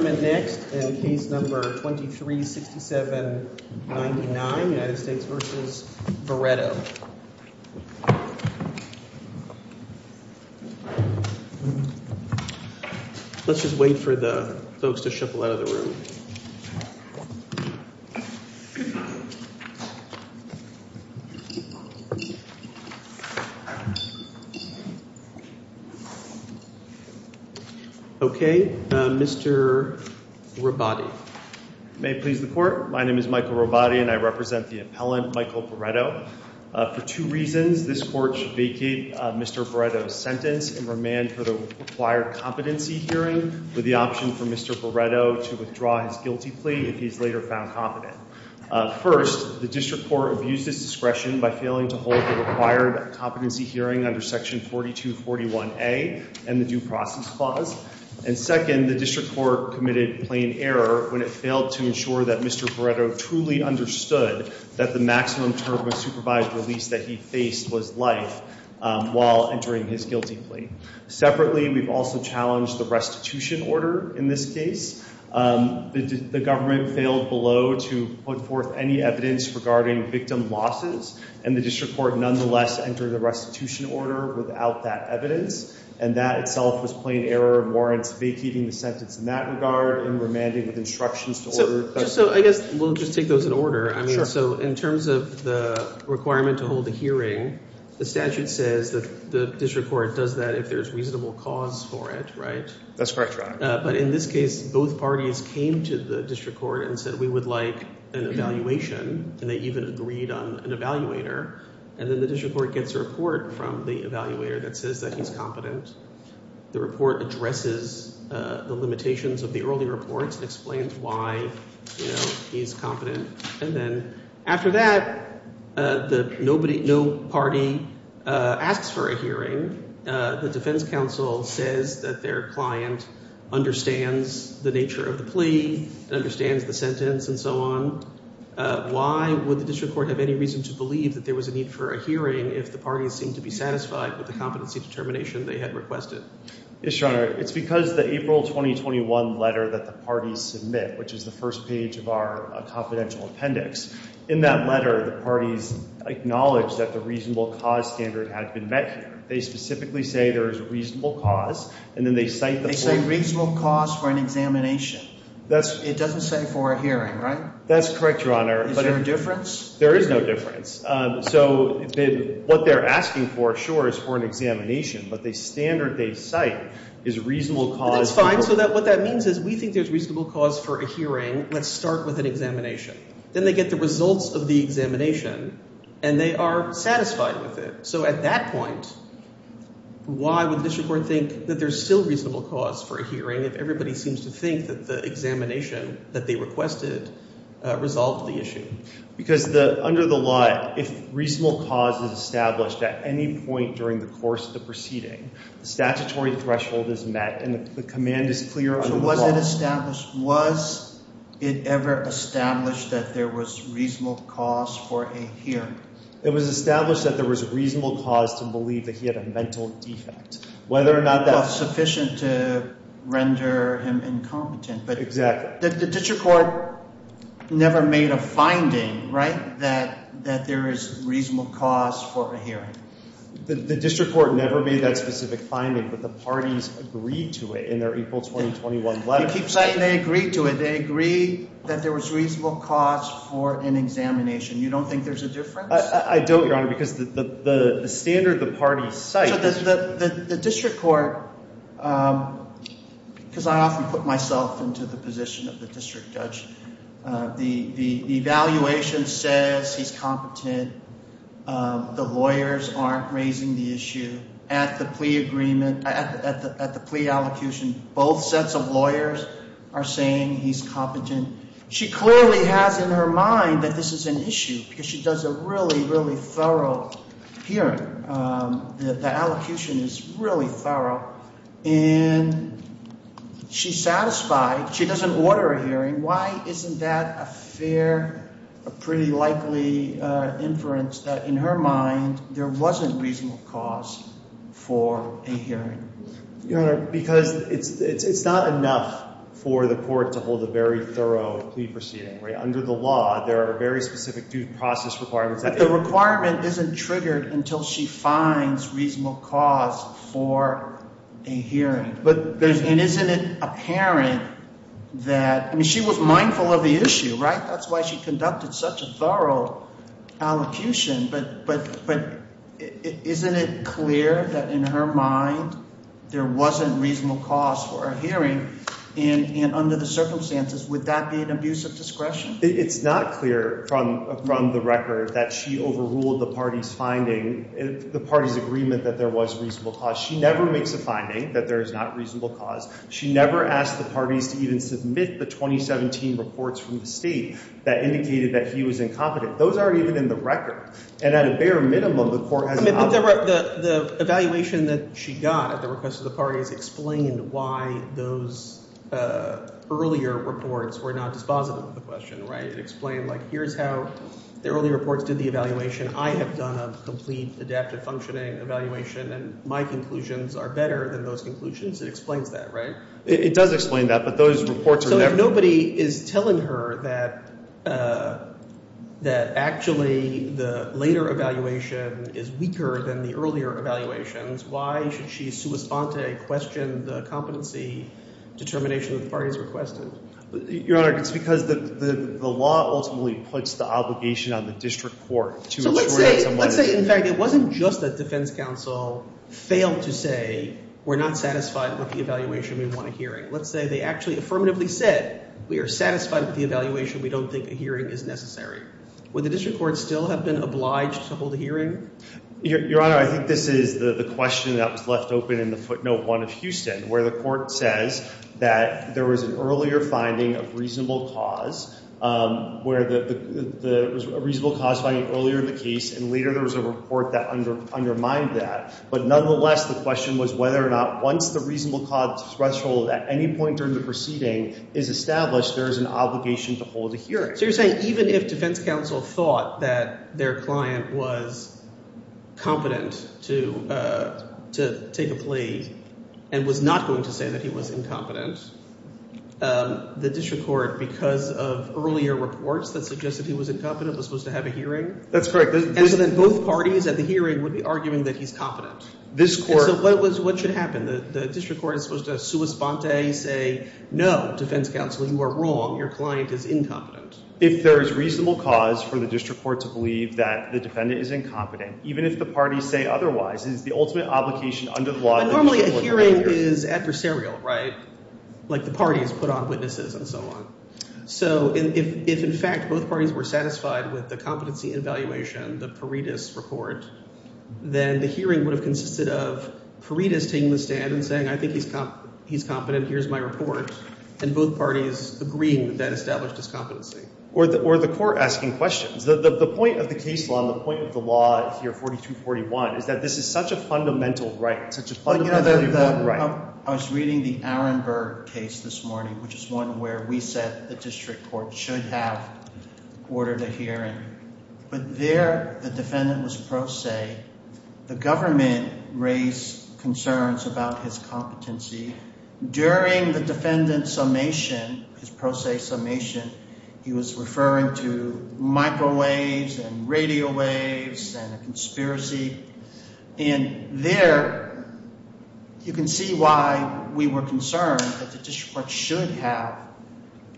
Let's just wait for the folks to shuffle out of the room. Okay, Mr. Robati. May it please the court, my name is Michael Robati and I represent the appellant Michael Barreto. For two reasons, this court should vacate Mr. Barreto's sentence and remand for the required competency hearing with the option for Mr. Barreto to withdraw his guilty plea if he is later found competent. First, the district court abused its discretion by failing to hold the required competency hearing under section 4241A and the due process clause. And second, the district court committed plain error when it failed to ensure that Mr. Barreto truly understood that the maximum term of supervised release that he faced was life while entering his guilty plea. Separately, we've also challenged the restitution order in this case. The government failed below to put forth any evidence regarding victim losses and the district court nonetheless entered the restitution order without that evidence. And that itself was plain error and warrants vacating the sentence in that regard and remanding with instructions to order. So I guess we'll just take those in order. I mean, so in terms of the requirement to hold the hearing, the statute says that the district court does that if there's reasonable cause for it, right? That's correct, Your Honor. But in this case, both parties came to the district court and said we would like an evaluation and they even agreed on an evaluator. And then the district court gets a report from the evaluator that says that he's competent. The report addresses the limitations of the early reports and explains why he's competent. And then after that, no party asks for a hearing. The defense counsel says that their client understands the nature of the plea, understands the sentence and so on. Why would the district court have any reason to believe that there was a need for a hearing if the parties seemed to be satisfied with the competency determination they had requested? Yes, Your Honor. It's because the April 2021 letter that the parties submit, which is the first page of our confidential appendix, in that letter, the parties acknowledge that the reasonable cause standard had been met here. They specifically say there is a reasonable cause and then they cite the- They say reasonable cause for an examination. It doesn't say for a hearing, right? That's correct, Your Honor. But is there a difference? There is no difference. So what they're asking for, sure, is for an examination, but the standard they cite is reasonable cause- That's fine. So what that means is we think there's reasonable cause for a hearing. Let's start with an examination. Then they get the results of the examination and they are satisfied with it. So at that point, why would the district court think that there's still reasonable cause for a hearing if everybody seems to think that the examination that they requested resolved the issue? Because under the law, if reasonable cause is established at any point during the course of the proceeding, the statutory threshold is met and the command is clear under the Once it's established, was it ever established that there was reasonable cause for a hearing? It was established that there was a reasonable cause to believe that he had a mental defect. Whether or not that- Was sufficient to render him incompetent. Exactly. The district court never made a finding, right, that there is reasonable cause for a hearing. The district court never made that specific finding, but the parties agreed to it in their You keep saying they agreed to it. They agreed that there was reasonable cause for an examination. You don't think there's a difference? I don't, Your Honor, because the standard the parties cite- The district court, because I often put myself into the position of the district judge, the evaluation says he's competent, the lawyers aren't raising the issue. At the plea agreement, at the plea allocution, both sets of lawyers are saying he's competent. She clearly has in her mind that this is an issue because she does a really, really thorough hearing. The allocution is really thorough and she's satisfied. She doesn't order a hearing. Why isn't that a fair, a pretty likely inference that in her mind there wasn't reasonable cause for a hearing? Your Honor, because it's not enough for the court to hold a very thorough plea proceeding, right? Under the law, there are very specific due process requirements that- But the requirement isn't triggered until she finds reasonable cause for a hearing. But there's- And isn't it apparent that, I mean, she was mindful of the issue, right? That's why she conducted such a thorough allocution, but isn't it clear that in her mind there wasn't reasonable cause for a hearing and under the circumstances would that be an abuse of discretion? It's not clear from the record that she overruled the party's finding, the party's agreement that there was reasonable cause. She never makes a finding that there is not reasonable cause. She never asked the parties to even submit the 2017 reports from the state that indicated that he was incompetent. Those are even in the record. And at a bare minimum, the court has not- The evaluation that she got at the request of the parties explained why those earlier reports were not dispositive of the question, right? It explained, like, here's how the early reports did the evaluation. I have done a complete adaptive functioning evaluation and my conclusions are better than those conclusions. It explains that, right? It does explain that, but those reports are never- So if nobody is telling her that actually the later evaluation is weaker than the earlier evaluations, why should she sua sponte question the competency determination that the parties requested? Your Honor, it's because the law ultimately puts the obligation on the district court So let's say, in fact, it wasn't just that defense counsel failed to say, we're not satisfied with the evaluation. We want a hearing. Let's say they actually affirmatively said, we are satisfied with the evaluation. We don't think a hearing is necessary. Would the district court still have been obliged to hold a hearing? Your Honor, I think this is the question that was left open in the footnote one of Houston, where the court says that there was an earlier finding of reasonable cause, where the reasonable cause finding earlier in the case, and later there was a report that undermined that. But nonetheless, the question was whether or not once the reasonable cause threshold at any point during the proceeding is established, there is an obligation to hold a hearing. So you're saying even if defense counsel thought that their client was competent to take a plea and was not going to say that he was incompetent, the district court, because of earlier reports that suggested he was incompetent, was supposed to have a hearing? That's correct. And so then both parties at the hearing would be arguing that he's competent. This court- So what should happen? The district court is supposed to sua sponte, say, no, defense counsel, you are wrong. Your client is incompetent. If there is reasonable cause for the district court to believe that the defendant is incompetent, even if the parties say otherwise, is the ultimate obligation under the law- But normally a hearing is adversarial, right? Like the parties put on witnesses and so on. So if, in fact, both parties were satisfied with the competency evaluation, the Paredes report, then the hearing would have consisted of Paredes taking the stand and saying, I think he's competent, here's my report, and both parties agreeing that that established his competency. Or the court asking questions. The point of the case law and the point of the law here, 4241, is that this is such a fundamental right, such a fundamental right. I was reading the Arenberg case this morning, which is one where we said the district court should have ordered a hearing, but there the defendant was pro se. The government raised concerns about his competency. During the defendant's summation, his pro se summation, he was referring to microwaves and radio waves and a conspiracy. And there, you can see why we were concerned that the district court should have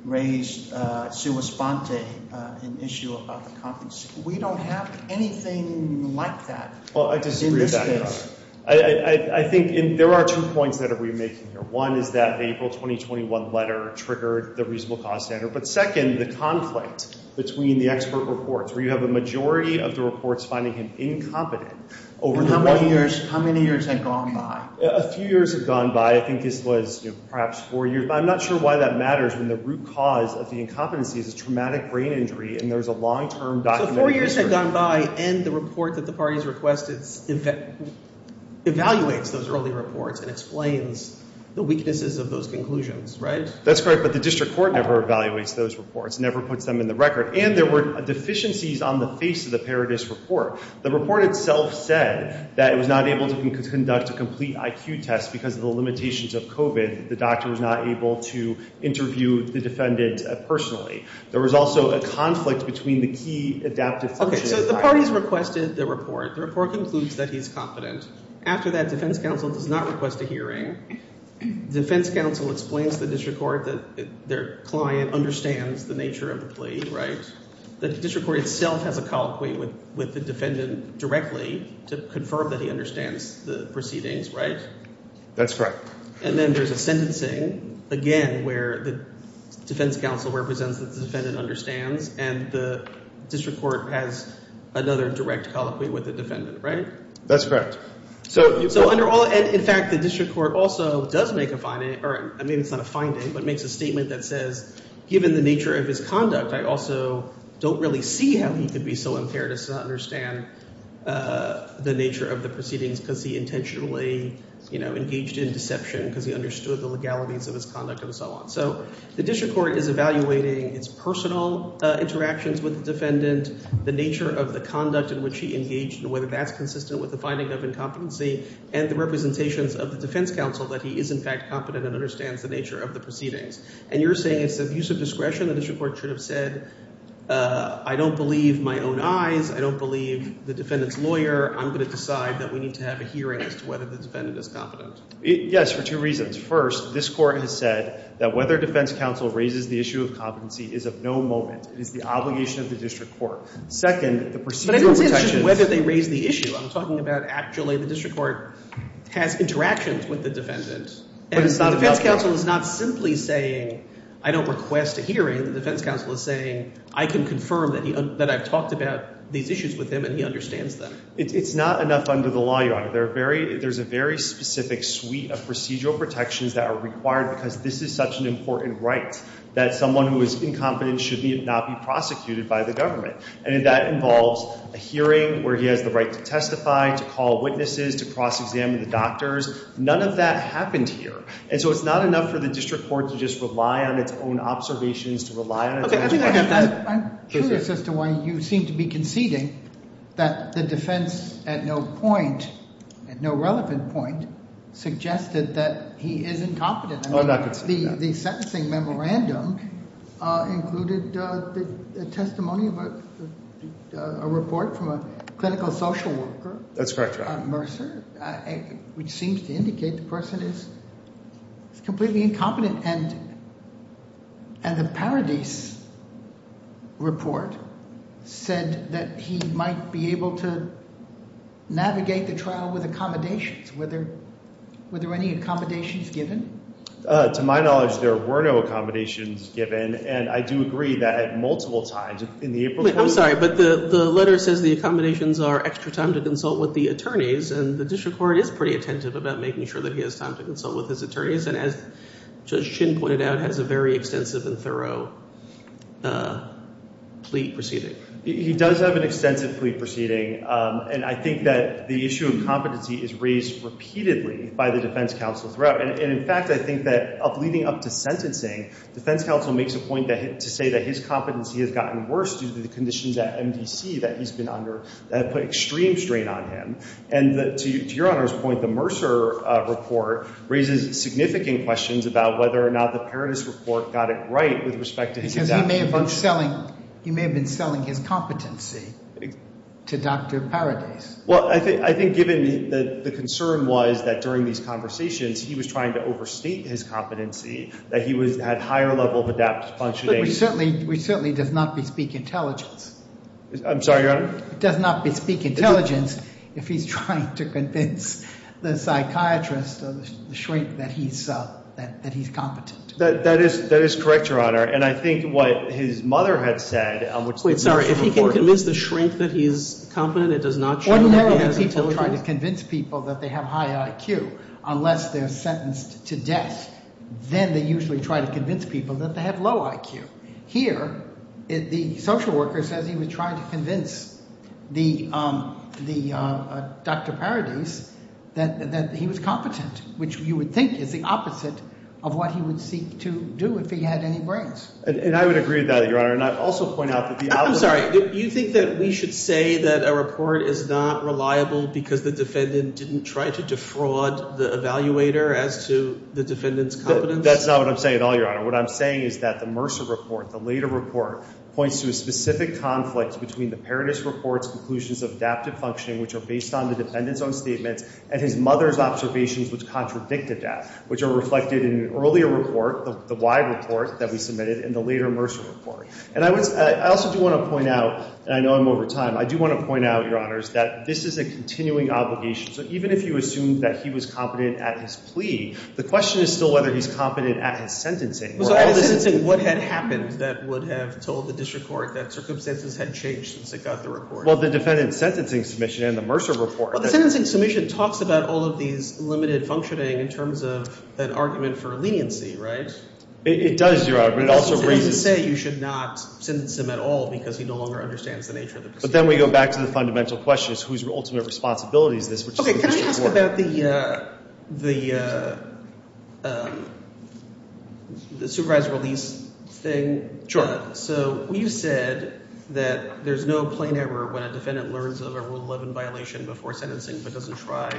raised sua sponte, an issue about the competency. We don't have anything like that in this case. I think there are two points that we're making here. One is that the April 2021 letter triggered the reasonable cause standard, but second, the conflict between the expert reports, where you have a majority of the reports finding him incompetent over the years. How many years had gone by? A few years had gone by. I think this was perhaps four years, but I'm not sure why that matters when the root cause of the incompetency is a traumatic brain injury and there's a long-term documented history. So four years had gone by and the report that the parties requested evaluates those early reports and explains the weaknesses of those conclusions, right? That's correct, but the district court never evaluates those reports, never puts them in the record. And there were deficiencies on the face of the Paradis report. The report itself said that it was not able to conduct a complete IQ test because of the limitations of COVID. The doctor was not able to interview the defendant personally. There was also a conflict between the key adaptive functions. So the parties requested the report. The report concludes that he's competent. After that, defense counsel does not request a hearing. Defense counsel explains to the district court that their client understands the nature of the plea, right? The district court itself has a colloquy with the defendant directly to confirm that he understands the proceedings, right? That's correct. And then there's a sentencing, again, where the defense counsel represents that the defendant understands and the district court has another direct colloquy with the defendant, right? That's correct. So under all... And in fact, the district court also does make a finding, or I mean, it's not a finding, but makes a statement that says, given the nature of his conduct, I also don't really see how he could be so impaired as to understand the nature of the proceedings because he intentionally, you know, engaged in deception because he understood the legalities of his conduct and so on. So the district court is evaluating its personal interactions with the defendant, the nature of the conduct in which he engaged and whether that's consistent with the finding of incompetency and the representations of the defense counsel that he is in fact competent and understands the nature of the proceedings. And you're saying it's an abuse of discretion, the district court should have said, I don't believe my own eyes, I don't believe the defendant's lawyer, I'm going to decide that we need to have a hearing as to whether the defendant is competent. Yes, for two reasons. First, this court has said that whether defense counsel raises the issue of competency is of no moment. It is the obligation of the district court. Second, the procedural protections... But I didn't say it's just whether they raise the issue, I'm talking about actually the district court has interactions with the defendant. And the defense counsel is not simply saying, I don't request a hearing, the defense counsel is saying, I can confirm that I've talked about these issues with him and he understands them. It's not enough under the law, Your Honor. There's a very specific suite of procedural protections that are required because this is such an important right that someone who is incompetent should not be prosecuted by the government. And that involves a hearing where he has the right to testify, to call witnesses, to cross-examine the doctors. None of that happened here. And so it's not enough for the district court to just rely on its own observations, to rely on its own questions. Okay, I'm curious as to why you seem to be conceding that the defense at no point, at no relevant point, suggested that he is incompetent. I'm not conceding that. The sentencing memorandum included a testimony, a report from a clinical social worker. That's correct, Your Honor. And a report on Mercer, which seems to indicate the person is completely incompetent. And the Paradis report said that he might be able to navigate the trial with accommodations. Were there any accommodations given? To my knowledge, there were no accommodations given. And I do agree that at multiple times in the April court... I'm sorry, but the letter says the accommodations are extra time to consult with the attorneys. And the district court is pretty attentive about making sure that he has time to consult with his attorneys. And as Judge Chin pointed out, has a very extensive and thorough plea proceeding. He does have an extensive plea proceeding. And I think that the issue of competency is raised repeatedly by the defense counsel throughout. And in fact, I think that leading up to sentencing, defense counsel makes a point to say that his competency has gotten worse due to the conditions at MDC that he's been under that have put extreme strain on him. And to Your Honor's point, the Mercer report raises significant questions about whether or not the Paradis report got it right with respect to his adaptability. Because he may have been selling his competency to Dr. Paradis. Well, I think given the concern was that during these conversations, he was trying to overstate his competency, that he had higher level of adaptive functioning. Which certainly does not bespeak intelligence. I'm sorry, Your Honor? It does not bespeak intelligence if he's trying to convince the psychiatrist of the shrink that he's competent. That is correct, Your Honor. And I think what his mother had said, on which the Mercer report- If he can convince the shrink that he's competent, it does not show that he has intelligence? One way that people try to convince people that they have high IQ, unless they're sentenced to death, then they usually try to convince people that they have low IQ. Here, the social worker says he was trying to convince the Dr. Paradis that he was competent, which you would think is the opposite of what he would seek to do if he had any brains. And I would agree with that, Your Honor. And I'd also point out that the opposite- I'm sorry. Do you think that we should say that a report is not reliable because the defendant didn't try to defraud the evaluator as to the defendant's competence? That's not what I'm saying at all, Your Honor. What I'm saying is that the Mercer report, the later report, points to a specific conflict between the Paradis report's conclusions of adaptive functioning, which are based on the defendant's own statements, and his mother's observations which contradicted that, which are reflected in an earlier report, the Why report that we submitted, and the later Mercer report. And I also do want to point out, and I know I'm over time, I do want to point out, Your Honor, that this is a continuing obligation. So even if you assume that he was competent at his plea, the question is still whether he's competent at his sentencing or at his- So at his sentencing, what had happened that would have told the district court that circumstances had changed since it got the report? Well, the defendant's sentencing submission and the Mercer report- Well, the sentencing submission talks about all of these limited functioning in terms of an argument for leniency, right? It does, Your Honor. But it also raises- You shouldn't say you should not sentence him at all because he no longer understands the nature of the proceeding. But then we go back to the fundamental question is whose ultimate responsibility is this, which is the district court- Can I ask about the supervised release thing? Sure. So you said that there's no plain error when a defendant learns of a Rule 11 violation before sentencing but doesn't try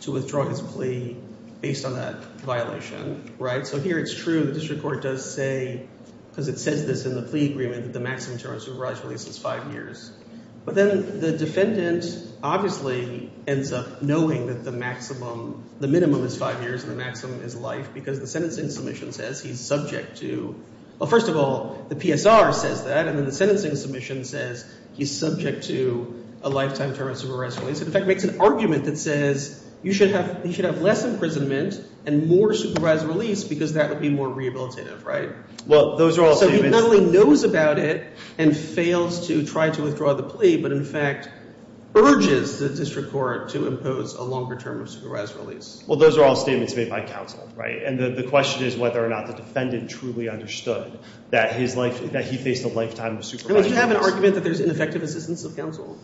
to withdraw his plea based on that violation, right? So here it's true. The district court does say, because it says this in the plea agreement, that the maximum term of supervised release is five years. But then the defendant obviously ends up knowing that the maximum- the minimum is five years and the maximum is life because the sentencing submission says he's subject to- well, first of all, the PSR says that and then the sentencing submission says he's subject to a lifetime term of supervised release. In fact, it makes an argument that says you should have- he should have less imprisonment and more supervised release because that would be more rehabilitative, right? Well, those are all statements- So he not only knows about it and fails to try to withdraw the plea but, in fact, urges the district court to impose a longer term of supervised release. Well, those are all statements made by counsel, right? And the question is whether or not the defendant truly understood that his life- that he faced a lifetime of supervised release. I mean, do you have an argument that there's ineffective assistance of counsel?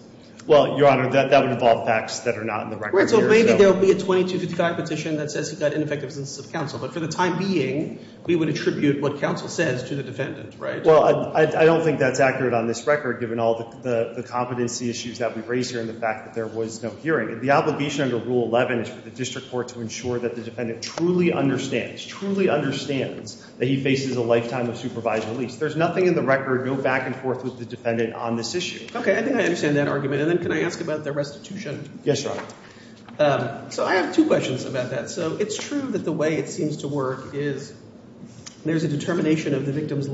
Well, Your Honor, that would involve facts that are not in the record here, so- Right. So maybe there'll be a 2255 petition that says he got ineffective assistance of counsel. But for the time being, we would attribute what counsel says to the defendant, right? Well, I don't think that's accurate on this record given all the competency issues that we've raised here and the fact that there was no hearing. The obligation under Rule 11 is for the district court to ensure that the defendant truly understands, truly understands that he faces a lifetime of supervised release. There's nothing in the record, no back and forth with the defendant on this issue. Okay. I think I understand that argument. And then can I ask about the restitution? Yes, Your Honor. So I have two questions about that. So it's true that the way it seems to work is there's a determination of the victim's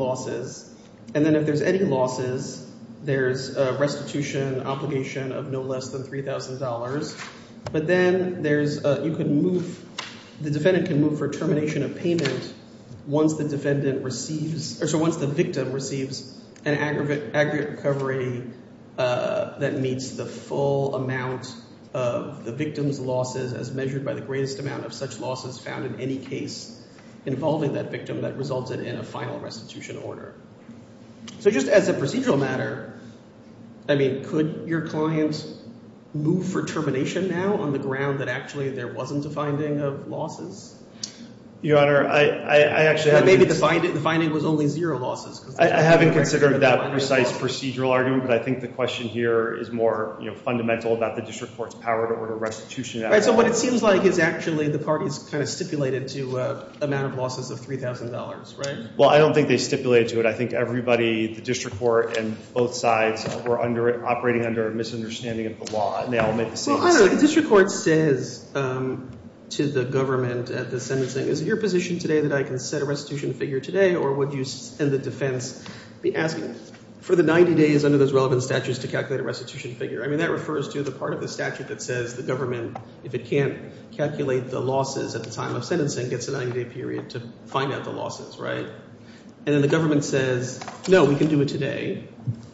And then if there's any losses, there's a restitution obligation of no less than $3,000. But then there's, you can move, the defendant can move for termination of payment once the defendant receives, or so once the victim receives an aggregate recovery that meets the full amount of the victim's losses as measured by the greatest amount of such losses found in any case involving that victim that resulted in a final restitution order. So just as a procedural matter, I mean, could your client move for termination now on the ground that actually there wasn't a finding of losses? Your Honor, I actually haven't considered that precise procedural argument, but I think the question here is more, you know, fundamental about the district court's power to order restitution. Right. So what it seems like is actually the parties kind of stipulated to amount of losses of $3,000, right? Well, I don't think they stipulated to it. I think everybody, the district court and both sides were under, operating under a misunderstanding of the law. And they all made the same assessment. Well, I don't know. The district court says to the government at the sentencing, is it your position today that I can set a restitution figure today, or would you, in the defense, be asking for the 90 days under those relevant statutes to calculate a restitution figure? I mean, that refers to the part of the statute that says the government, if it can't calculate the losses at the time of sentencing, gets a 90-day period to find out the losses, right? And then the government says, no, we can do it today,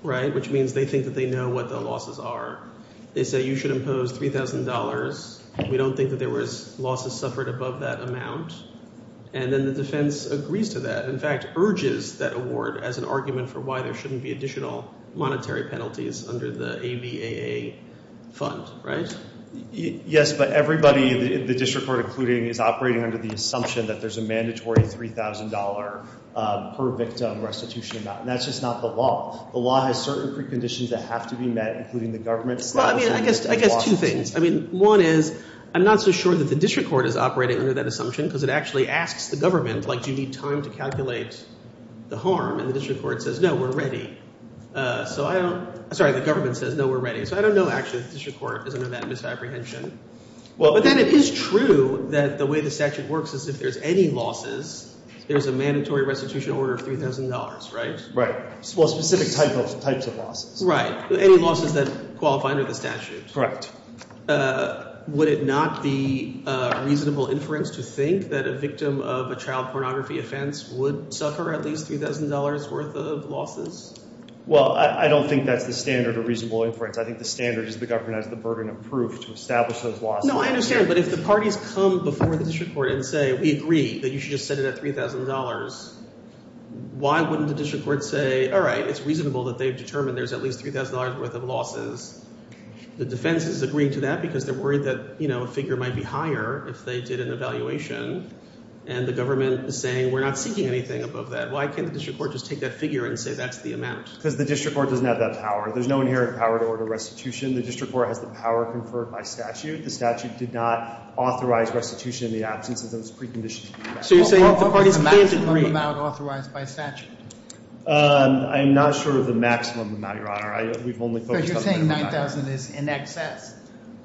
right? Which means they think that they know what the losses are. They say you should impose $3,000. We don't think that there was losses suffered above that amount. And then the defense agrees to that, in fact, urges that award as an argument for why there shouldn't be additional monetary penalties under the ABAA fund, right? Yes, but everybody, the district court including, is operating under the assumption that there's a mandatory $3,000 per victim restitution amount. And that's just not the law. The law has certain preconditions that have to be met, including the government's statutes and the law's constitution. Well, I mean, I guess two things. I mean, one is, I'm not so sure that the district court is operating under that assumption, because it actually asks the government, like, do you need time to calculate the harm? And the district court says, no, we're ready. So I don't, sorry, the government says, no, we're ready. So I don't know, actually, if the district court is under that misapprehension. Well, but then it is true that the way the statute works is if there's any losses, there's a mandatory restitution order of $3,000, right? Right. Well, specific types of losses. Right. Any losses that qualify under the statute. Correct. Would it not be reasonable inference to think that a victim of a child pornography offense would suffer at least $3,000 worth of losses? Well, I don't think that's the standard of reasonable inference. I think the standard is the government has the burden of proof to establish those losses. No, I understand. But if the parties come before the district court and say, we agree that you should just set it at $3,000, why wouldn't the district court say, all right, it's reasonable that they've determined there's at least $3,000 worth of losses? The defense is agreeing to that because they're worried that, you know, a figure might be higher if they did an evaluation. And the government is saying, we're not seeking anything above that. Why can't the district court just take that figure and say that's the amount? Because the district court doesn't have that power. There's no inherent power to order restitution. The district court has the power conferred by statute. The statute did not authorize restitution in the absence of those preconditions. So you're saying the parties can't agree? What's the maximum amount authorized by statute? I'm not sure of the maximum amount, Your Honor. We've only focused on the minimum amount. So you're saying $9,000 is in excess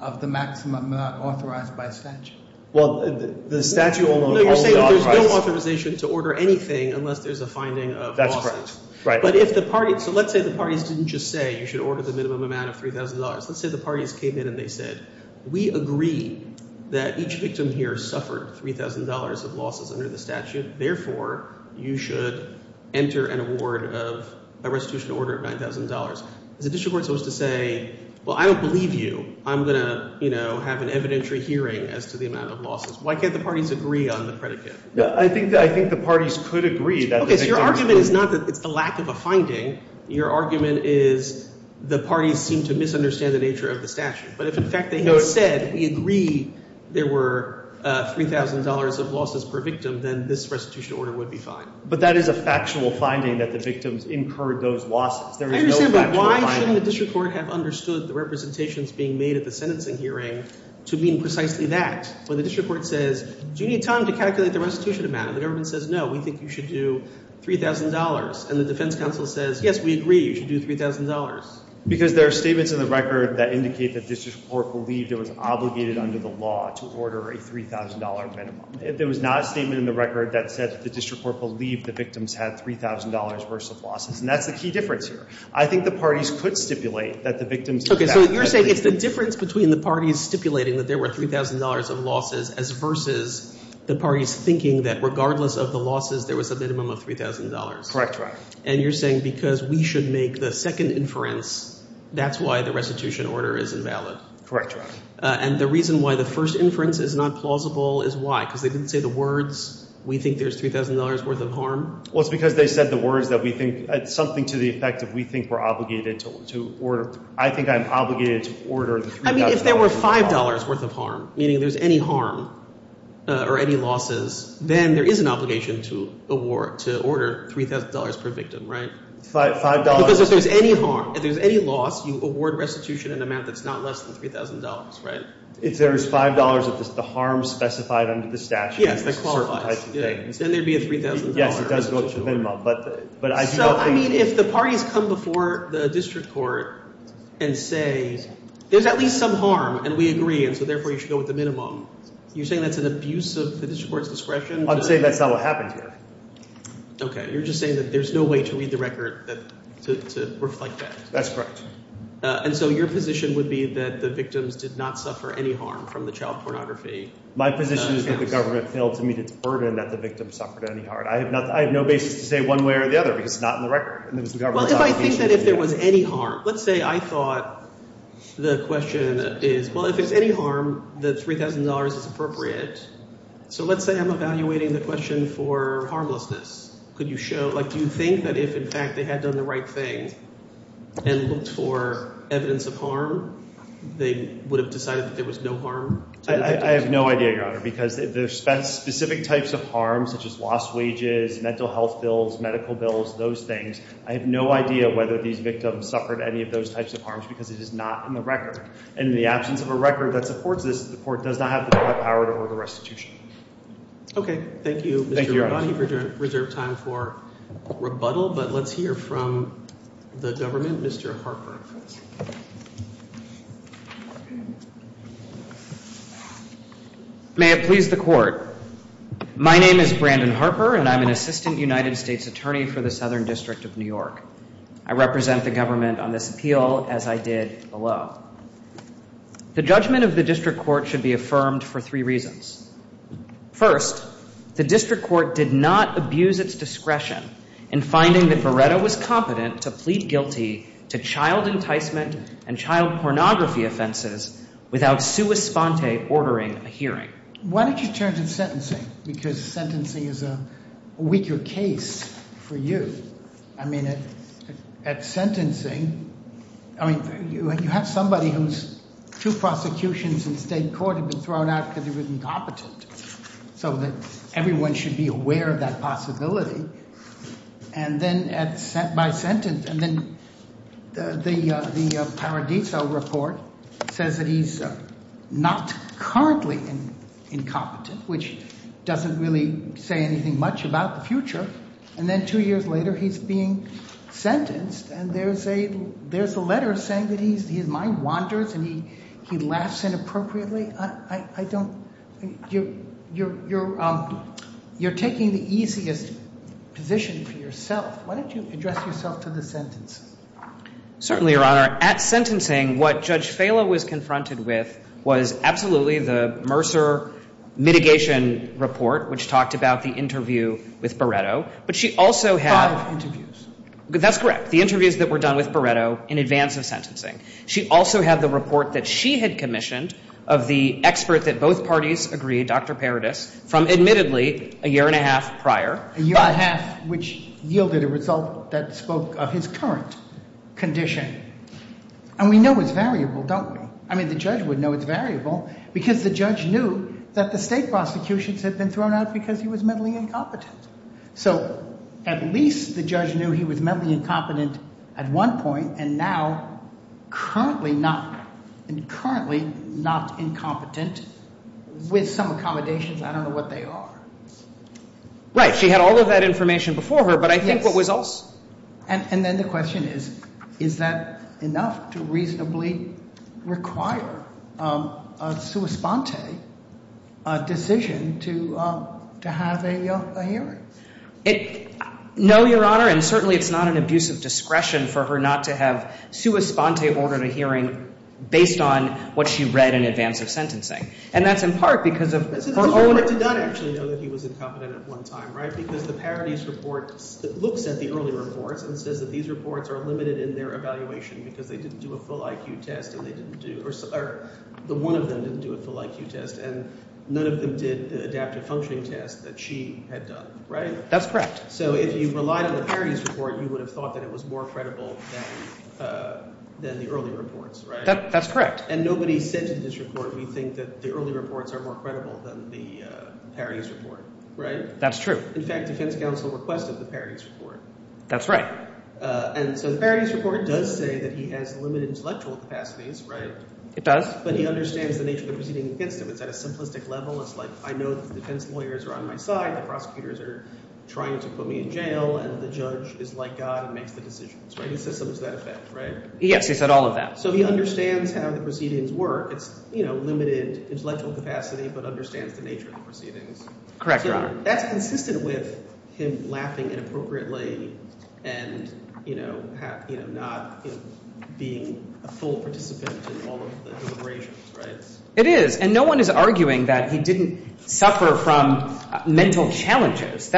of the maximum amount authorized by statute? Well, the statute will only authorize... No, you're saying there's no authorization to order anything unless there's a finding of losses. That's correct. But if the parties... So let's say the parties didn't just say you should order the minimum amount of $3,000. Let's say the parties came in and they said, we agree that each victim here suffered $3,000 of losses under the statute. Therefore, you should enter an award of a restitution order of $9,000. Is the district court supposed to say, well, I don't believe you. I'm going to, you know, have an evidentiary hearing as to the amount of losses. Why can't the parties agree on the predicate? I think the parties could agree that... Okay, so your argument is not that it's a lack of a finding. Your argument is the parties seem to misunderstand the nature of the statute. But if, in fact, they had said, we agree there were $3,000 of losses per victim, then this restitution order would be fine. But that is a factual finding that the victims incurred those losses. There is no factual finding. But why shouldn't the district court have understood the representations being made at the sentencing hearing to mean precisely that? When the district court says, do you need time to calculate the restitution amount? And the government says, no, we think you should do $3,000. And the defense counsel says, yes, we agree you should do $3,000. Because there are statements in the record that indicate that district court believed it was obligated under the law to order a $3,000 minimum. There was not a statement in the record that said that the district court believed the victims had $3,000 worth of losses. And that's the key difference here. I think the parties could stipulate that the victims did that. OK. So you're saying it's the difference between the parties stipulating that there were $3,000 of losses as versus the parties thinking that regardless of the losses, there was a minimum of $3,000. Correct, Your Honor. And you're saying because we should make the second inference, that's why the restitution order is invalid. Correct, Your Honor. And the reason why the first inference is not plausible is why? Because they didn't say the words, we think there's $3,000 worth of harm. Well, it's because they said the words that we think, something to the effect that we think we're obligated to order. I think I'm obligated to order the $3,000 worth of harm. I mean, if there were $5 worth of harm, meaning there's any harm or any losses, then there is an obligation to order $3,000 per victim, right? $5. Because if there's any harm, if there's any loss, you award restitution in an amount that's not less than $3,000, right? If there is $5 of the harm specified under the statute. Yes, that qualifies. Then there would be a $3,000. Yes, it does go to the minimum. So, I mean, if the parties come before the district court and say, there's at least some harm, and we agree, and so therefore you should go with the minimum, you're saying that's an abuse of the district court's discretion? I'm saying that's not what happened here. Okay. You're just saying that there's no way to read the record to reflect that. That's correct. And so your position would be that the victims did not suffer any harm from the child pornography? My position is that the government failed to meet its burden that the victims suffered any harm. I have no basis to say one way or the other because it's not in the record. Well, if I think that if there was any harm, let's say I thought the question is, well, if there's any harm, the $3,000 is appropriate. So let's say I'm evaluating the question for harmlessness. Could you show, like, do you think that if, in fact, they had done the right thing and looked for evidence of harm, they would have decided that there was no harm? I have no idea, Your Honor, because there's specific types of harm such as lost wages, mental health bills, medical bills, those things. I have no idea whether these victims suffered any of those types of harms because it is not in the record. And in the absence of a record that supports this, the court does not have the power to order restitution. Okay. Thank you, Mr. Rabbani, for your reserved time for rebuttal. But let's hear from the government, Mr. Harper. May it please the Court. My name is Brandon Harper, and I'm an assistant United States attorney for the Southern District of New York. I represent the government on this appeal, as I did below. The judgment of the district court should be affirmed for three reasons. First, the district court did not abuse its discretion in finding that Beretta was competent to plead guilty to child enticement and child pornography offenses without sua sponte ordering a hearing. Why don't you turn to sentencing? Because sentencing is a weaker case for you. I mean, at sentencing, I mean, you have somebody whose two prosecutions in state court have been thrown out because he was incompetent, so that everyone should be aware of that possibility. And then the Paradiso report says that he's not currently incompetent, which doesn't really say anything much about the future. And then two years later, he's being sentenced, and there's a letter saying that his mind wanders and he laughs inappropriately. I don't – you're taking the easiest position for yourself. Why don't you address yourself to the sentencing? Certainly, Your Honor. At sentencing, what Judge Falo was confronted with was absolutely the Mercer mitigation report, which talked about the interview with Beretta. But she also had – Five interviews. That's correct. The interviews that were done with Beretta in advance of sentencing. She also had the report that she had commissioned of the expert that both parties agreed, Dr. Paradis, from admittedly a year and a half prior. A year and a half, which yielded a result that spoke of his current condition. And we know it's variable, don't we? I mean, the judge would know it's variable because the judge knew that the state prosecutions had been thrown out because he was mentally incompetent. So at least the judge knew he was mentally incompetent at one point, and now currently not incompetent with some accommodations. I don't know what they are. Right. She had all of that information before her, but I think what was also – And then the question is, is that enough to reasonably require a sua sponte decision to have a hearing? No, Your Honor. And certainly it's not an abusive discretion for her not to have sua sponte ordered a hearing based on what she read in advance of sentencing. And that's in part because of her own – I did not actually know that he was incompetent at one time, right? Because the Paradis report looks at the early reports and says that these reports are limited in their evaluation because they didn't do a full IQ test and they didn't do – or the one of them didn't do a full IQ test and none of them did adaptive functioning tests that she had done, right? That's correct. So if you relied on the Paradis report, you would have thought that it was more credible than the early reports, right? That's correct. And nobody said to this report, we think that the early reports are more credible than the Paradis report, right? That's true. In fact, defense counsel requested the Paradis report. That's right. And so the Paradis report does say that he has limited intellectual capacities, right? It does. But he understands the nature of the proceeding against him. It's at a simplistic level. It's like I know the defense lawyers are on my side. The prosecutors are trying to put me in jail and the judge is like God and makes the decisions, right? He systems that effect, right? Yes. He said all of that. So he understands how the proceedings work. It's limited intellectual capacity but understands the nature of the proceedings. Correct, Your Honor. That's consistent with him laughing inappropriately and not being a full participant in all of the deliberations, right? It is. And no one is arguing that he didn't suffer from mental challenges.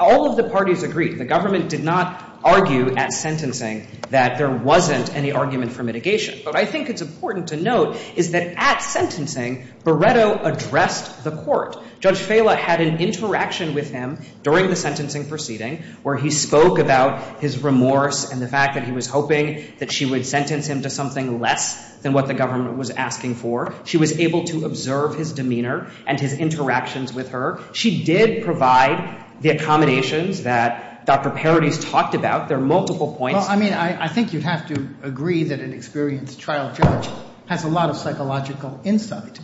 All of the parties agreed. The government did not argue at sentencing that there wasn't any argument for mitigation. But I think it's important to note is that at sentencing, Beretto addressed the court. Judge Fela had an interaction with him during the sentencing proceeding where he spoke about his remorse and the fact that he was hoping that she would sentence him to something less than what the government was asking for. She was able to observe his demeanor and his interactions with her. She did provide the accommodations that Dr. Paradis talked about. There are multiple points. Well, I mean, I think you'd have to agree that an experienced trial judge has a lot of psychological insight.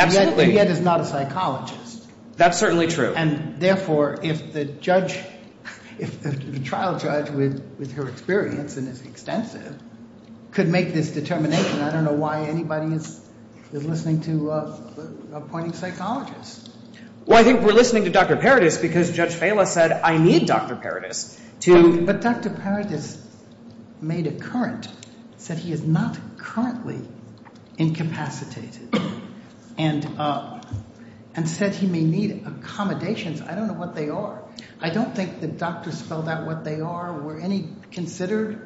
Absolutely. And yet is not a psychologist. That's certainly true. And therefore, if the judge, if the trial judge with her experience and is extensive could make this determination, I don't know why anybody is listening to appointing psychologists. Well, I think we're listening to Dr. Paradis because Judge Fela said I need Dr. Paradis to. But Dr. Paradis made a current, said he is not currently incapacitated and said he may need accommodations. I don't know what they are. I don't think the doctors spelled out what they are or were any considered.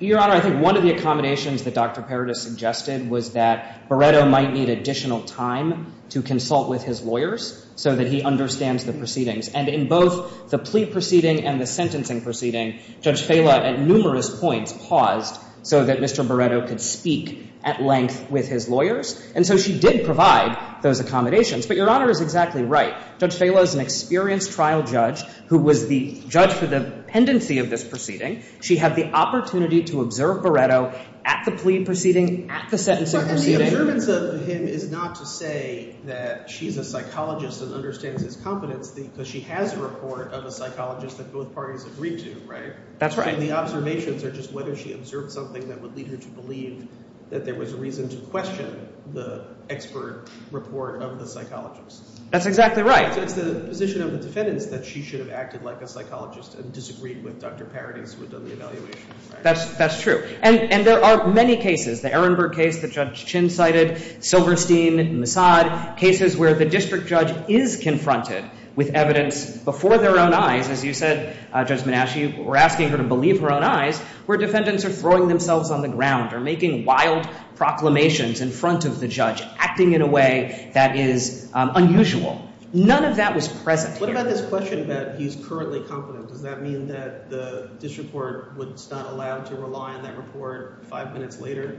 Your Honor, I think one of the accommodations that Dr. Paradis suggested was that Beretto might need additional time to consult with his lawyers so that he understands the proceedings. And in both the plea proceeding and the sentencing proceeding, Judge Fela at numerous points paused so that Mr. Beretto could speak at length with his lawyers. And so she did provide those accommodations. But Your Honor is exactly right. Judge Fela is an experienced trial judge who was the judge for the pendency of this proceeding. She had the opportunity to observe Beretto at the plea proceeding, at the sentencing proceeding. But the observance of him is not to say that she's a psychologist and understands his competence because she has a report of a psychologist that both parties agreed to, right? That's right. And the observations are just whether she observed something that would lead her to believe that there was a reason to question the expert report of the psychologist. That's exactly right. So it's the position of the defendants that she should have acted like a psychologist and disagreed with Dr. Paradis who had done the evaluation, right? That's true. And there are many cases, the Ehrenberg case that Judge Chin cited, Silverstein, Massad, cases where the district judge is confronted with evidence before their own eyes, as you said, Judge Menasche, you were asking her to believe her own eyes, where defendants are throwing themselves on the ground or making wild proclamations in front of the judge, acting in a way that is unusual. None of that was present here. What about this question that he's currently competent? Does that mean that the district court was not allowed to rely on that report five minutes later?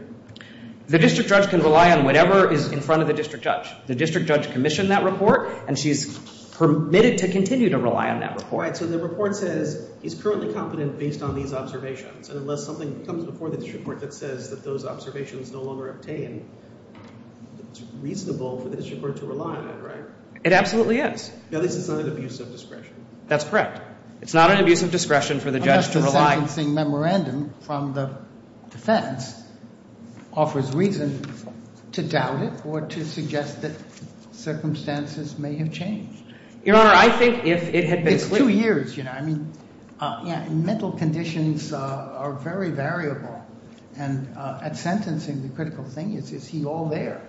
The district judge can rely on whatever is in front of the district judge. The district judge commissioned that report, and she's permitted to continue to rely on that report. Right, so the report says he's currently competent based on these observations, and unless something comes before the district court that says that those observations no longer obtain, it's reasonable for the district court to rely on it, right? It absolutely is. At least it's not an abuse of discretion. That's correct. It's not an abuse of discretion for the judge to rely – Unless the sentencing memorandum from the defense offers reason to doubt it or to suggest that circumstances may have changed. Your Honor, I think if it had been – It's two years, you know. I mean, mental conditions are very variable, and at sentencing the critical thing is, is he all there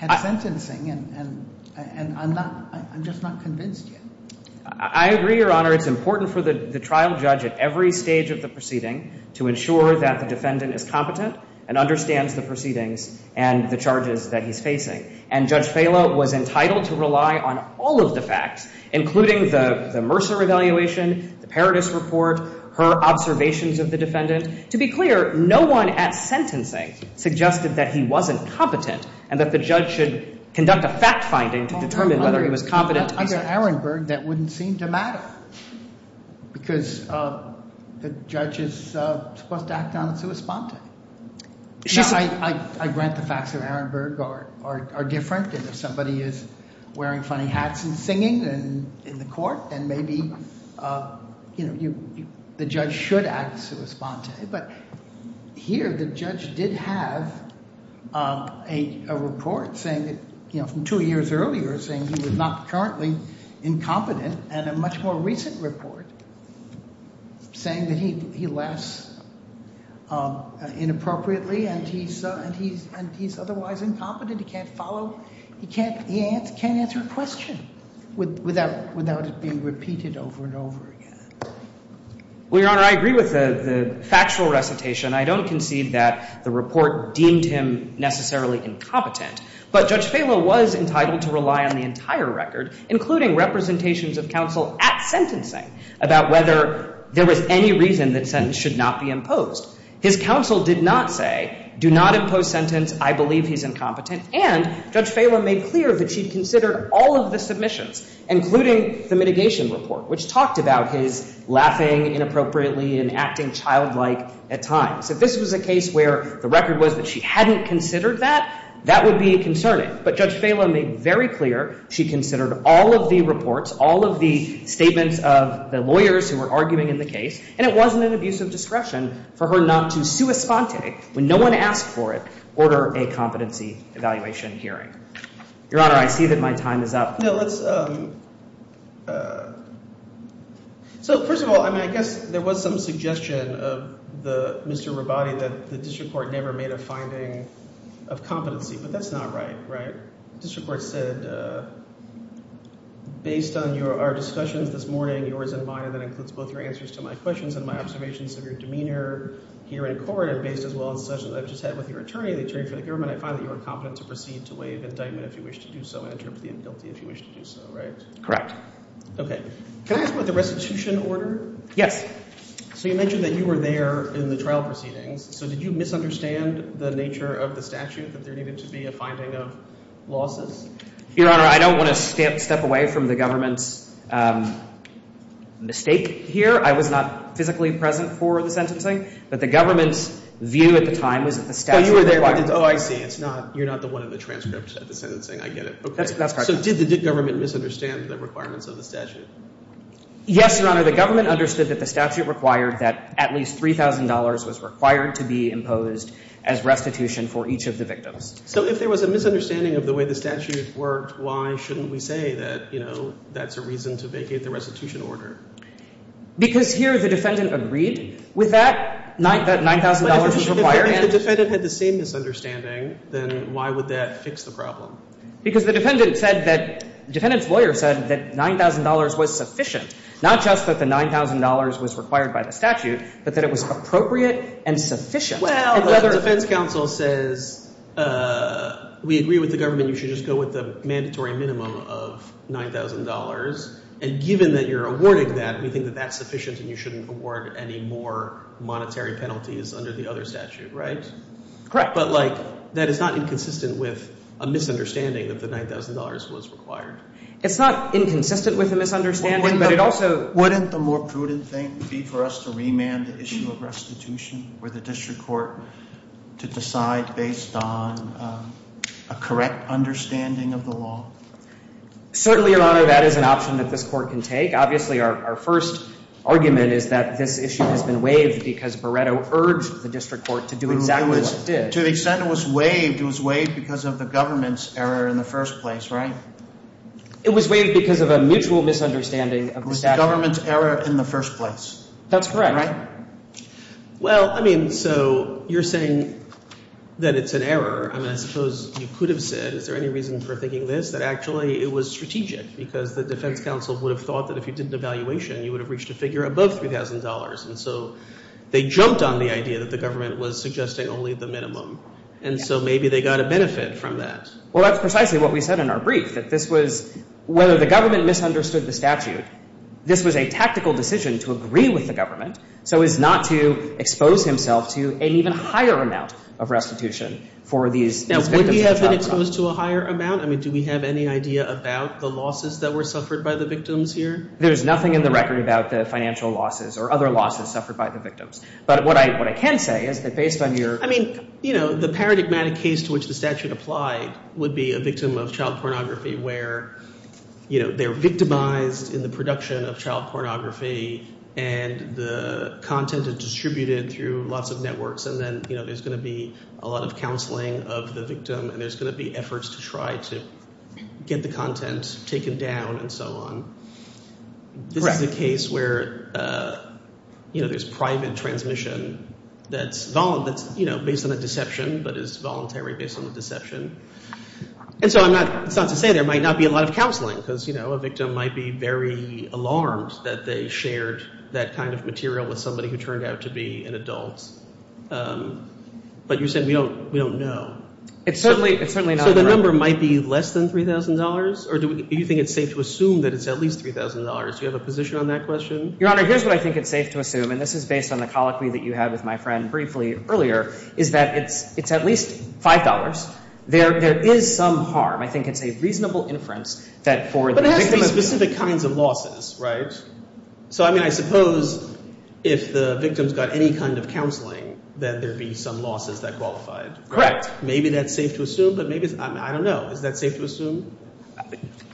at sentencing, and I'm just not convinced yet. I agree, Your Honor. It's important for the trial judge at every stage of the proceeding to ensure that the defendant is competent and understands the proceedings and the charges that he's facing. And Judge Falo was entitled to rely on all of the facts, including the Mercer evaluation, the Paradis report, her observations of the defendant. To be clear, no one at sentencing suggested that he wasn't competent and that the judge should conduct a fact-finding to determine whether he was competent. Under Arenberg, that wouldn't seem to matter because the judge is supposed to act on its own. I grant the facts of Arenberg are different, and if somebody is wearing funny hats and singing in the court, then maybe, you know, the judge should act sui sponte. But here the judge did have a report saying that, you know, from two years earlier saying he was not currently incompetent and a much more recent report saying that he laughs inappropriately and he's otherwise incompetent. He can't follow. He can't answer a question without it being repeated over and over again. Well, Your Honor, I agree with the factual recitation. I don't concede that the report deemed him necessarily incompetent. But Judge Falo was entitled to rely on the entire record, including representations of counsel at sentencing, about whether there was any reason that sentence should not be imposed. His counsel did not say, do not impose sentence, I believe he's incompetent. And Judge Falo made clear that she considered all of the submissions, including the mitigation report, which talked about his laughing inappropriately and acting childlike at times. If this was a case where the record was that she hadn't considered that, that would be concerning. But Judge Falo made very clear she considered all of the reports, all of the statements of the lawyers who were arguing in the case, and it wasn't an abuse of discretion for her not to sui sponte When no one asked for it, order a competency evaluation hearing. Your Honor, I see that my time is up. So first of all, I guess there was some suggestion of Mr. Rabate that the district court never made a finding of competency. But that's not right, right? The district court said, based on our discussions this morning, yours and mine, and that includes both your answers to my questions and my observations of your demeanor here in court are based as well as such that I've just had with your attorney, the attorney for the government, I find that you are competent to proceed to waive indictment if you wish to do so and interpret the inbuilt if you wish to do so, right? Correct. Okay. Can I ask about the restitution order? Yes. So you mentioned that you were there in the trial proceedings. So did you misunderstand the nature of the statute that there needed to be a finding of losses? Your Honor, I don't want to step away from the government's mistake here. I was not physically present for the sentencing. But the government's view at the time was that the statute required it. Oh, I see. You're not the one in the transcript at the sentencing. I get it. That's correct. So did the government misunderstand the requirements of the statute? Yes, Your Honor. The government understood that the statute required that at least $3,000 was required to be imposed as restitution for each of the victims. So if there was a misunderstanding of the way the statute worked, why shouldn't we say that, you know, that's a reason to vacate the restitution order? Because here the defendant agreed. With that, $9,000 was required. But if the defendant had the same misunderstanding, then why would that fix the problem? Because the defendant said that the defendant's lawyer said that $9,000 was sufficient. Not just that the $9,000 was required by the statute, but that it was appropriate and sufficient. Well, the defense counsel says we agree with the government. You should just go with the mandatory minimum of $9,000. And given that you're awarding that, we think that that's sufficient and you shouldn't award any more monetary penalties under the other statute, right? Correct. But, like, that is not inconsistent with a misunderstanding that the $9,000 was required. It's not inconsistent with a misunderstanding, but it also— Wouldn't the more prudent thing be for us to remand the issue of restitution for the district court to decide based on a correct understanding of the law? Certainly, Your Honor, that is an option that this court can take. Obviously, our first argument is that this issue has been waived because Beretto urged the district court to do exactly what it did. To the extent it was waived, it was waived because of the government's error in the first place, right? It was waived because of a mutual misunderstanding of the statute. It was the government's error in the first place. That's correct. Right? Well, I mean, so you're saying that it's an error. I mean, I suppose you could have said, is there any reason for thinking this, that actually it was strategic because the defense counsel would have thought that if you did an evaluation, you would have reached a figure above $3,000. And so they jumped on the idea that the government was suggesting only the minimum. And so maybe they got a benefit from that. Well, that's precisely what we said in our brief, that this was—whether the government misunderstood the statute, this was a tactical decision to agree with the government so as not to expose himself to an even higher amount of restitution for these victims. Now, would he have been exposed to a higher amount? I mean, do we have any idea about the losses that were suffered by the victims here? There's nothing in the record about the financial losses or other losses suffered by the victims. But what I can say is that based on your— I mean, you know, the paradigmatic case to which the statute applied would be a victim of child pornography where, you know, they're victimized in the production of child pornography and the content is distributed through lots of networks. And then, you know, there's going to be a lot of counseling of the victim and there's going to be efforts to try to get the content taken down and so on. This is a case where, you know, there's private transmission that's, you know, based on a deception but is voluntary based on the deception. And so I'm not—it's not to say there might not be a lot of counseling because, you know, a victim might be very alarmed that they shared that kind of material with somebody who turned out to be an adult. But you're saying we don't know. It's certainly not— So the number might be less than $3,000? Or do you think it's safe to assume that it's at least $3,000? Do you have a position on that question? Your Honor, here's what I think it's safe to assume, and this is based on the colloquy that you had with my friend briefly earlier, is that it's at least $5. There is some harm. I think it's a reasonable inference that for the victim of— But it has to be specific kinds of losses, right? So, I mean, I suppose if the victim's got any kind of counseling, then there'd be some losses that qualified. Maybe that's safe to assume, but maybe—I don't know. Is that safe to assume?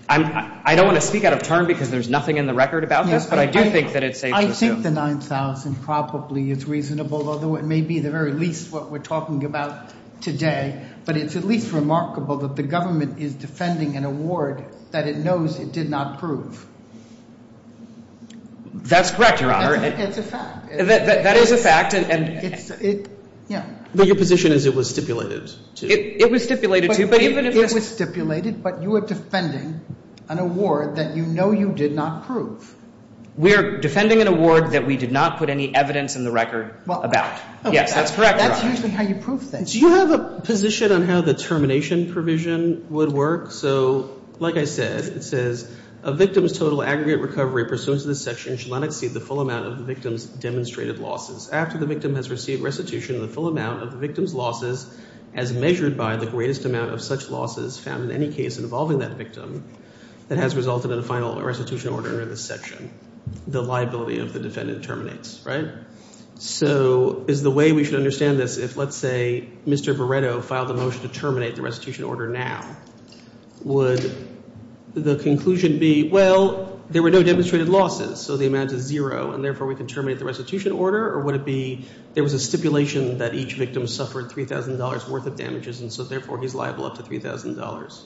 I don't want to speak out of turn because there's nothing in the record about this, but I do think that it's safe to assume. I think the $9,000 probably is reasonable, although it may be the very least what we're talking about today. But it's at least remarkable that the government is defending an award that it knows it did not prove. That's correct, Your Honor. It's a fact. That is a fact, and— But your position is it was stipulated to. It was stipulated to, but even if— It was stipulated, but you are defending an award that you know you did not prove. We are defending an award that we did not put any evidence in the record about. Yes, that's correct, Your Honor. That's usually how you prove things. Do you have a position on how the termination provision would work? So, like I said, it says, a victim's total aggregate recovery pursuant to this section should not exceed the full amount of the victim's demonstrated losses. After the victim has received restitution, the full amount of the victim's losses, as measured by the greatest amount of such losses found in any case involving that victim, that has resulted in a final restitution order under this section. The liability of the defendant terminates, right? So is the way we should understand this if, let's say, Mr. Beretto filed a motion to terminate the restitution order now? Would the conclusion be, well, there were no demonstrated losses, so the amount is zero, and therefore we can terminate the restitution order? Or would it be there was a stipulation that each victim suffered $3,000 worth of damages, and so therefore he's liable up to $3,000?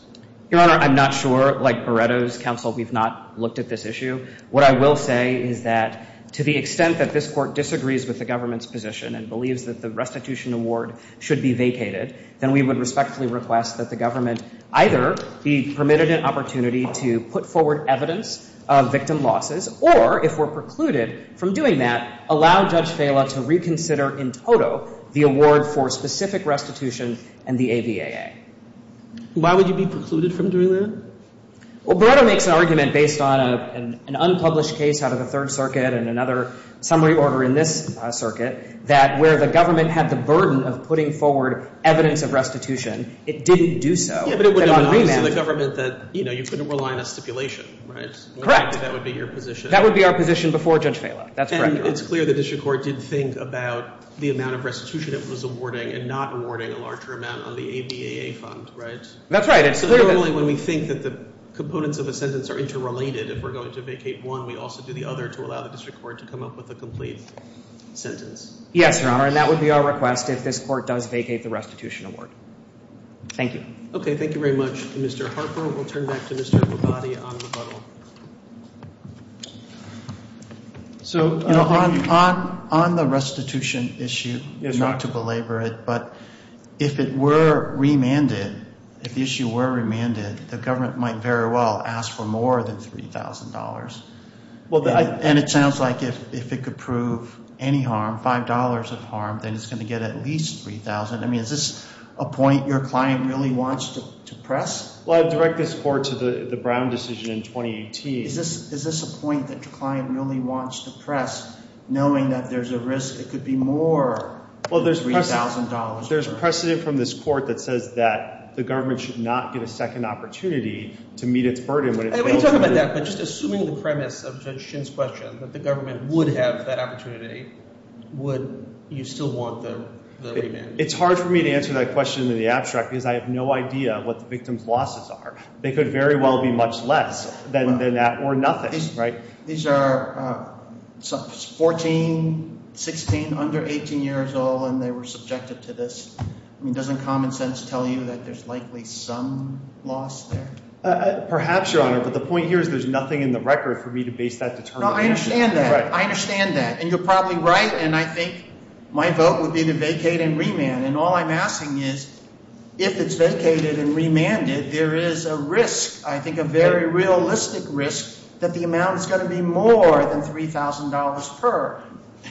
Your Honor, I'm not sure. Like Beretto's counsel, we've not looked at this issue. What I will say is that to the extent that this Court disagrees with the government's position and believes that the restitution award should be vacated, then we would respectfully request that the government either be permitted an opportunity to put forward evidence of victim losses, or if we're precluded from doing that, allow Judge Fela to reconsider in toto the award for specific restitution and the AVAA. Why would you be precluded from doing that? Well, Beretto makes an argument based on an unpublished case out of the Third Circuit and another summary order in this circuit that where the government had the burden of putting forward evidence of restitution, it didn't do so. Yeah, but it would have been obvious to the government that, you know, you couldn't rely on a stipulation, right? Correct. That would be your position. That would be our position before Judge Fela. That's correct. And it's clear the district court did think about the amount of restitution it was awarding and not awarding a larger amount on the AVAA fund, right? That's right. It's clear that— So normally when we think that the components of a sentence are interrelated, if we're going to vacate one, we also do the other to allow the district court to come up with a complete sentence. Yes, Your Honor. And that would be our request if this court does vacate the restitution award. Thank you. Okay. Thank you very much. Mr. Harper, we'll turn back to Mr. Labate on rebuttal. So— You know, on the restitution issue, not to belabor it, but if it were remanded, if the issue were remanded, the government might very well ask for more than $3,000. And it sounds like if it could prove any harm, $5 of harm, then it's going to get at least $3,000. I mean, is this a point your client really wants to press? Well, I'd direct this court to the Brown decision in 2018. Is this a point that your client really wants to press, knowing that there's a risk it could be more than $3,000? Well, there's precedent from this court that says that the government should not get a second opportunity to meet its burden. You talk about that, but just assuming the premise of Judge Shin's question, that the government would have that opportunity, would you still want the remand? It's hard for me to answer that question in the abstract because I have no idea what the victim's losses are. They could very well be much less than that or nothing, right? These are 14, 16, under 18 years old, and they were subjected to this. I mean, doesn't common sense tell you that there's likely some loss there? Perhaps, Your Honor, but the point here is there's nothing in the record for me to base that determination on. No, I understand that. I understand that. And you're probably right, and I think my vote would be to vacate and remand. And all I'm asking is if it's vacated and remanded, there is a risk, I think a very realistic risk, that the amount is going to be more than $3,000 per.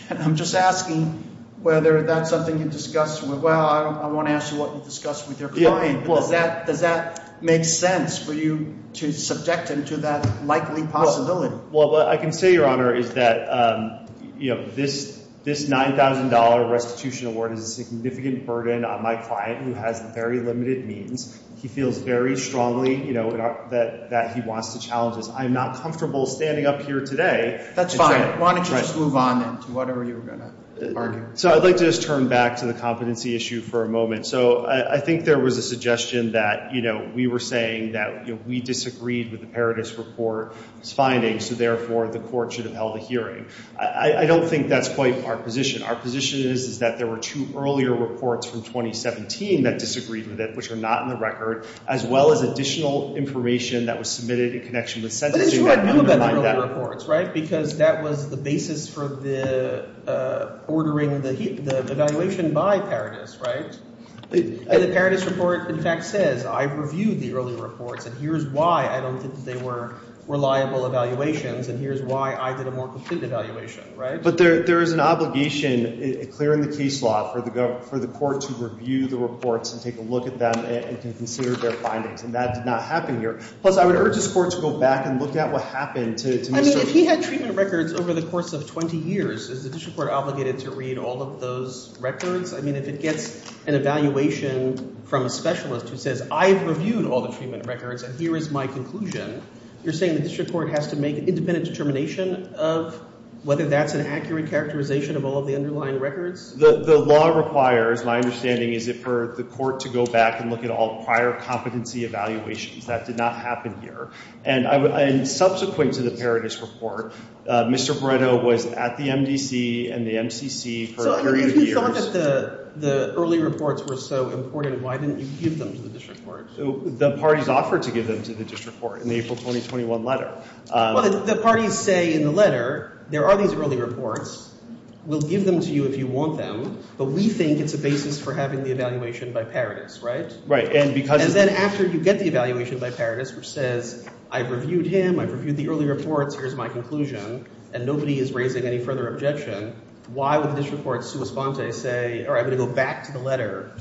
And I'm just asking whether that's something you discuss with, well, I want to ask you what you discuss with your client. Does that make sense for you to subject him to that likely possibility? Well, what I can say, Your Honor, is that this $9,000 restitution award is a significant burden on my client who has very limited means. He feels very strongly that he wants to challenge this. I am not comfortable standing up here today. That's fine. Why don't you just move on then to whatever you were going to argue? So I'd like to just turn back to the competency issue for a moment. So I think there was a suggestion that, you know, we were saying that we disagreed with the Paradis report's findings, so therefore the court should have held a hearing. I don't think that's quite our position. Our position is that there were two earlier reports from 2017 that disagreed with it, which are not in the record, as well as additional information that was submitted in connection with sentencing. It's true I knew about the earlier reports, right, because that was the basis for ordering the evaluation by Paradis, right? The Paradis report, in fact, says I've reviewed the earlier reports and here's why I don't think they were reliable evaluations and here's why I did a more complete evaluation, right? But there is an obligation, clear in the case law, for the court to review the reports and take a look at them and consider their findings, and that did not happen here. Plus, I would urge this court to go back and look at what happened to Mr. — I mean, if he had treatment records over the course of 20 years, is the district court obligated to read all of those records? I mean, if it gets an evaluation from a specialist who says I've reviewed all the treatment records and here is my conclusion, you're saying the district court has to make an independent determination of whether that's an accurate characterization of all of the underlying records? The law requires, my understanding is, for the court to go back and look at all prior competency evaluations. That did not happen here. And subsequent to the Paradis report, Mr. Brito was at the MDC and the MCC for a period of years. So if you thought that the early reports were so important, why didn't you give them to the district court? The parties offered to give them to the district court in the April 2021 letter. Well, the parties say in the letter there are these early reports. We'll give them to you if you want them, but we think it's a basis for having the evaluation by Paradis, right? Right, and because — And then after you get the evaluation by Paradis, which says I've reviewed him, I've reviewed the early reports, here's my conclusion, and nobody is raising any further objection, why would the district court's sua sponte say, all right, I'm going to go back to the letter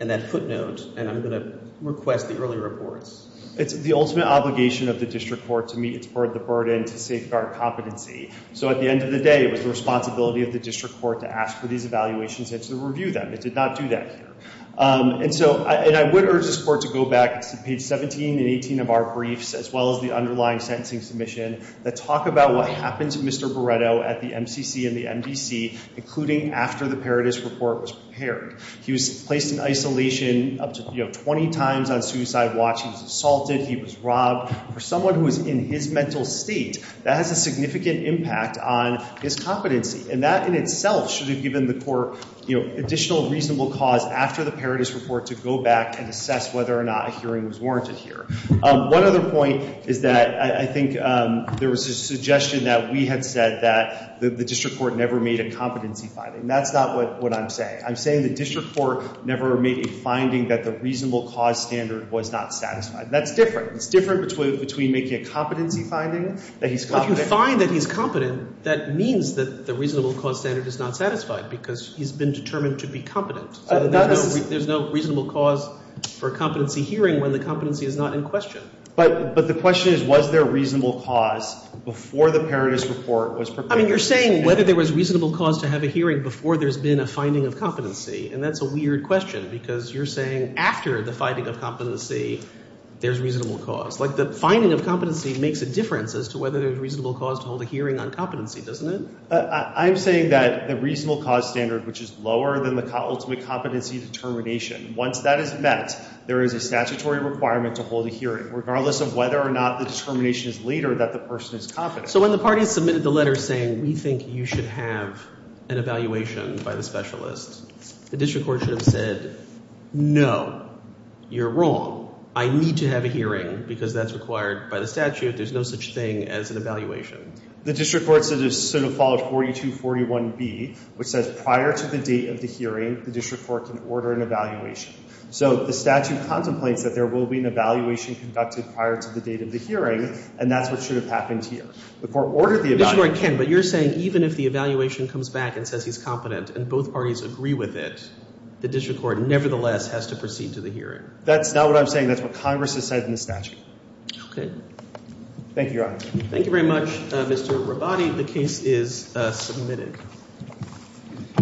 and that footnote and I'm going to request the early reports? It's the ultimate obligation of the district court to meet the burden to safeguard competency. So at the end of the day, it was the responsibility of the district court to ask for these evaluations and to review them. It did not do that here. And so — and I would urge this court to go back to page 17 and 18 of our briefs, as well as the underlying sentencing submission, that talk about what happened to Mr. Barreto at the MCC and the MDC, including after the Paradis report was prepared. He was placed in isolation up to, you know, 20 times on suicide watch. He was assaulted. He was robbed. For someone who is in his mental state, that has a significant impact on his competency, and that in itself should have given the court, you know, additional reasonable cause after the Paradis report to go back and assess whether or not a hearing was warranted here. One other point is that I think there was a suggestion that we had said that the district court never made a competency finding. That's not what I'm saying. I'm saying the district court never made a finding that the reasonable cause standard was not satisfied. That's different. It's different between making a competency finding that he's — that means that the reasonable cause standard is not satisfied because he's been determined to be competent. There's no reasonable cause for a competency hearing when the competency is not in question. But the question is, was there reasonable cause before the Paradis report was prepared? I mean, you're saying whether there was reasonable cause to have a hearing before there's been a finding of competency, and that's a weird question because you're saying after the finding of competency, there's reasonable cause. Like the finding of competency makes a difference as to whether there's reasonable cause to hold a hearing on competency, doesn't it? I'm saying that the reasonable cause standard, which is lower than the ultimate competency determination, once that is met, there is a statutory requirement to hold a hearing, regardless of whether or not the determination is later that the person is competent. So when the party submitted the letter saying we think you should have an evaluation by the specialist, the district court should have said, no, you're wrong. I need to have a hearing because that's required by the statute. There's no such thing as an evaluation. The district court sort of followed 4241B, which says prior to the date of the hearing, the district court can order an evaluation. So the statute contemplates that there will be an evaluation conducted prior to the date of the hearing, and that's what should have happened here. The court ordered the evaluation. But you're saying even if the evaluation comes back and says he's competent and both parties agree with it, the district court nevertheless has to proceed to the hearing. That's not what I'm saying. That's what Congress has said in the statute. Thank you, Your Honor. Thank you very much, Mr. Rabbati. The case is submitted.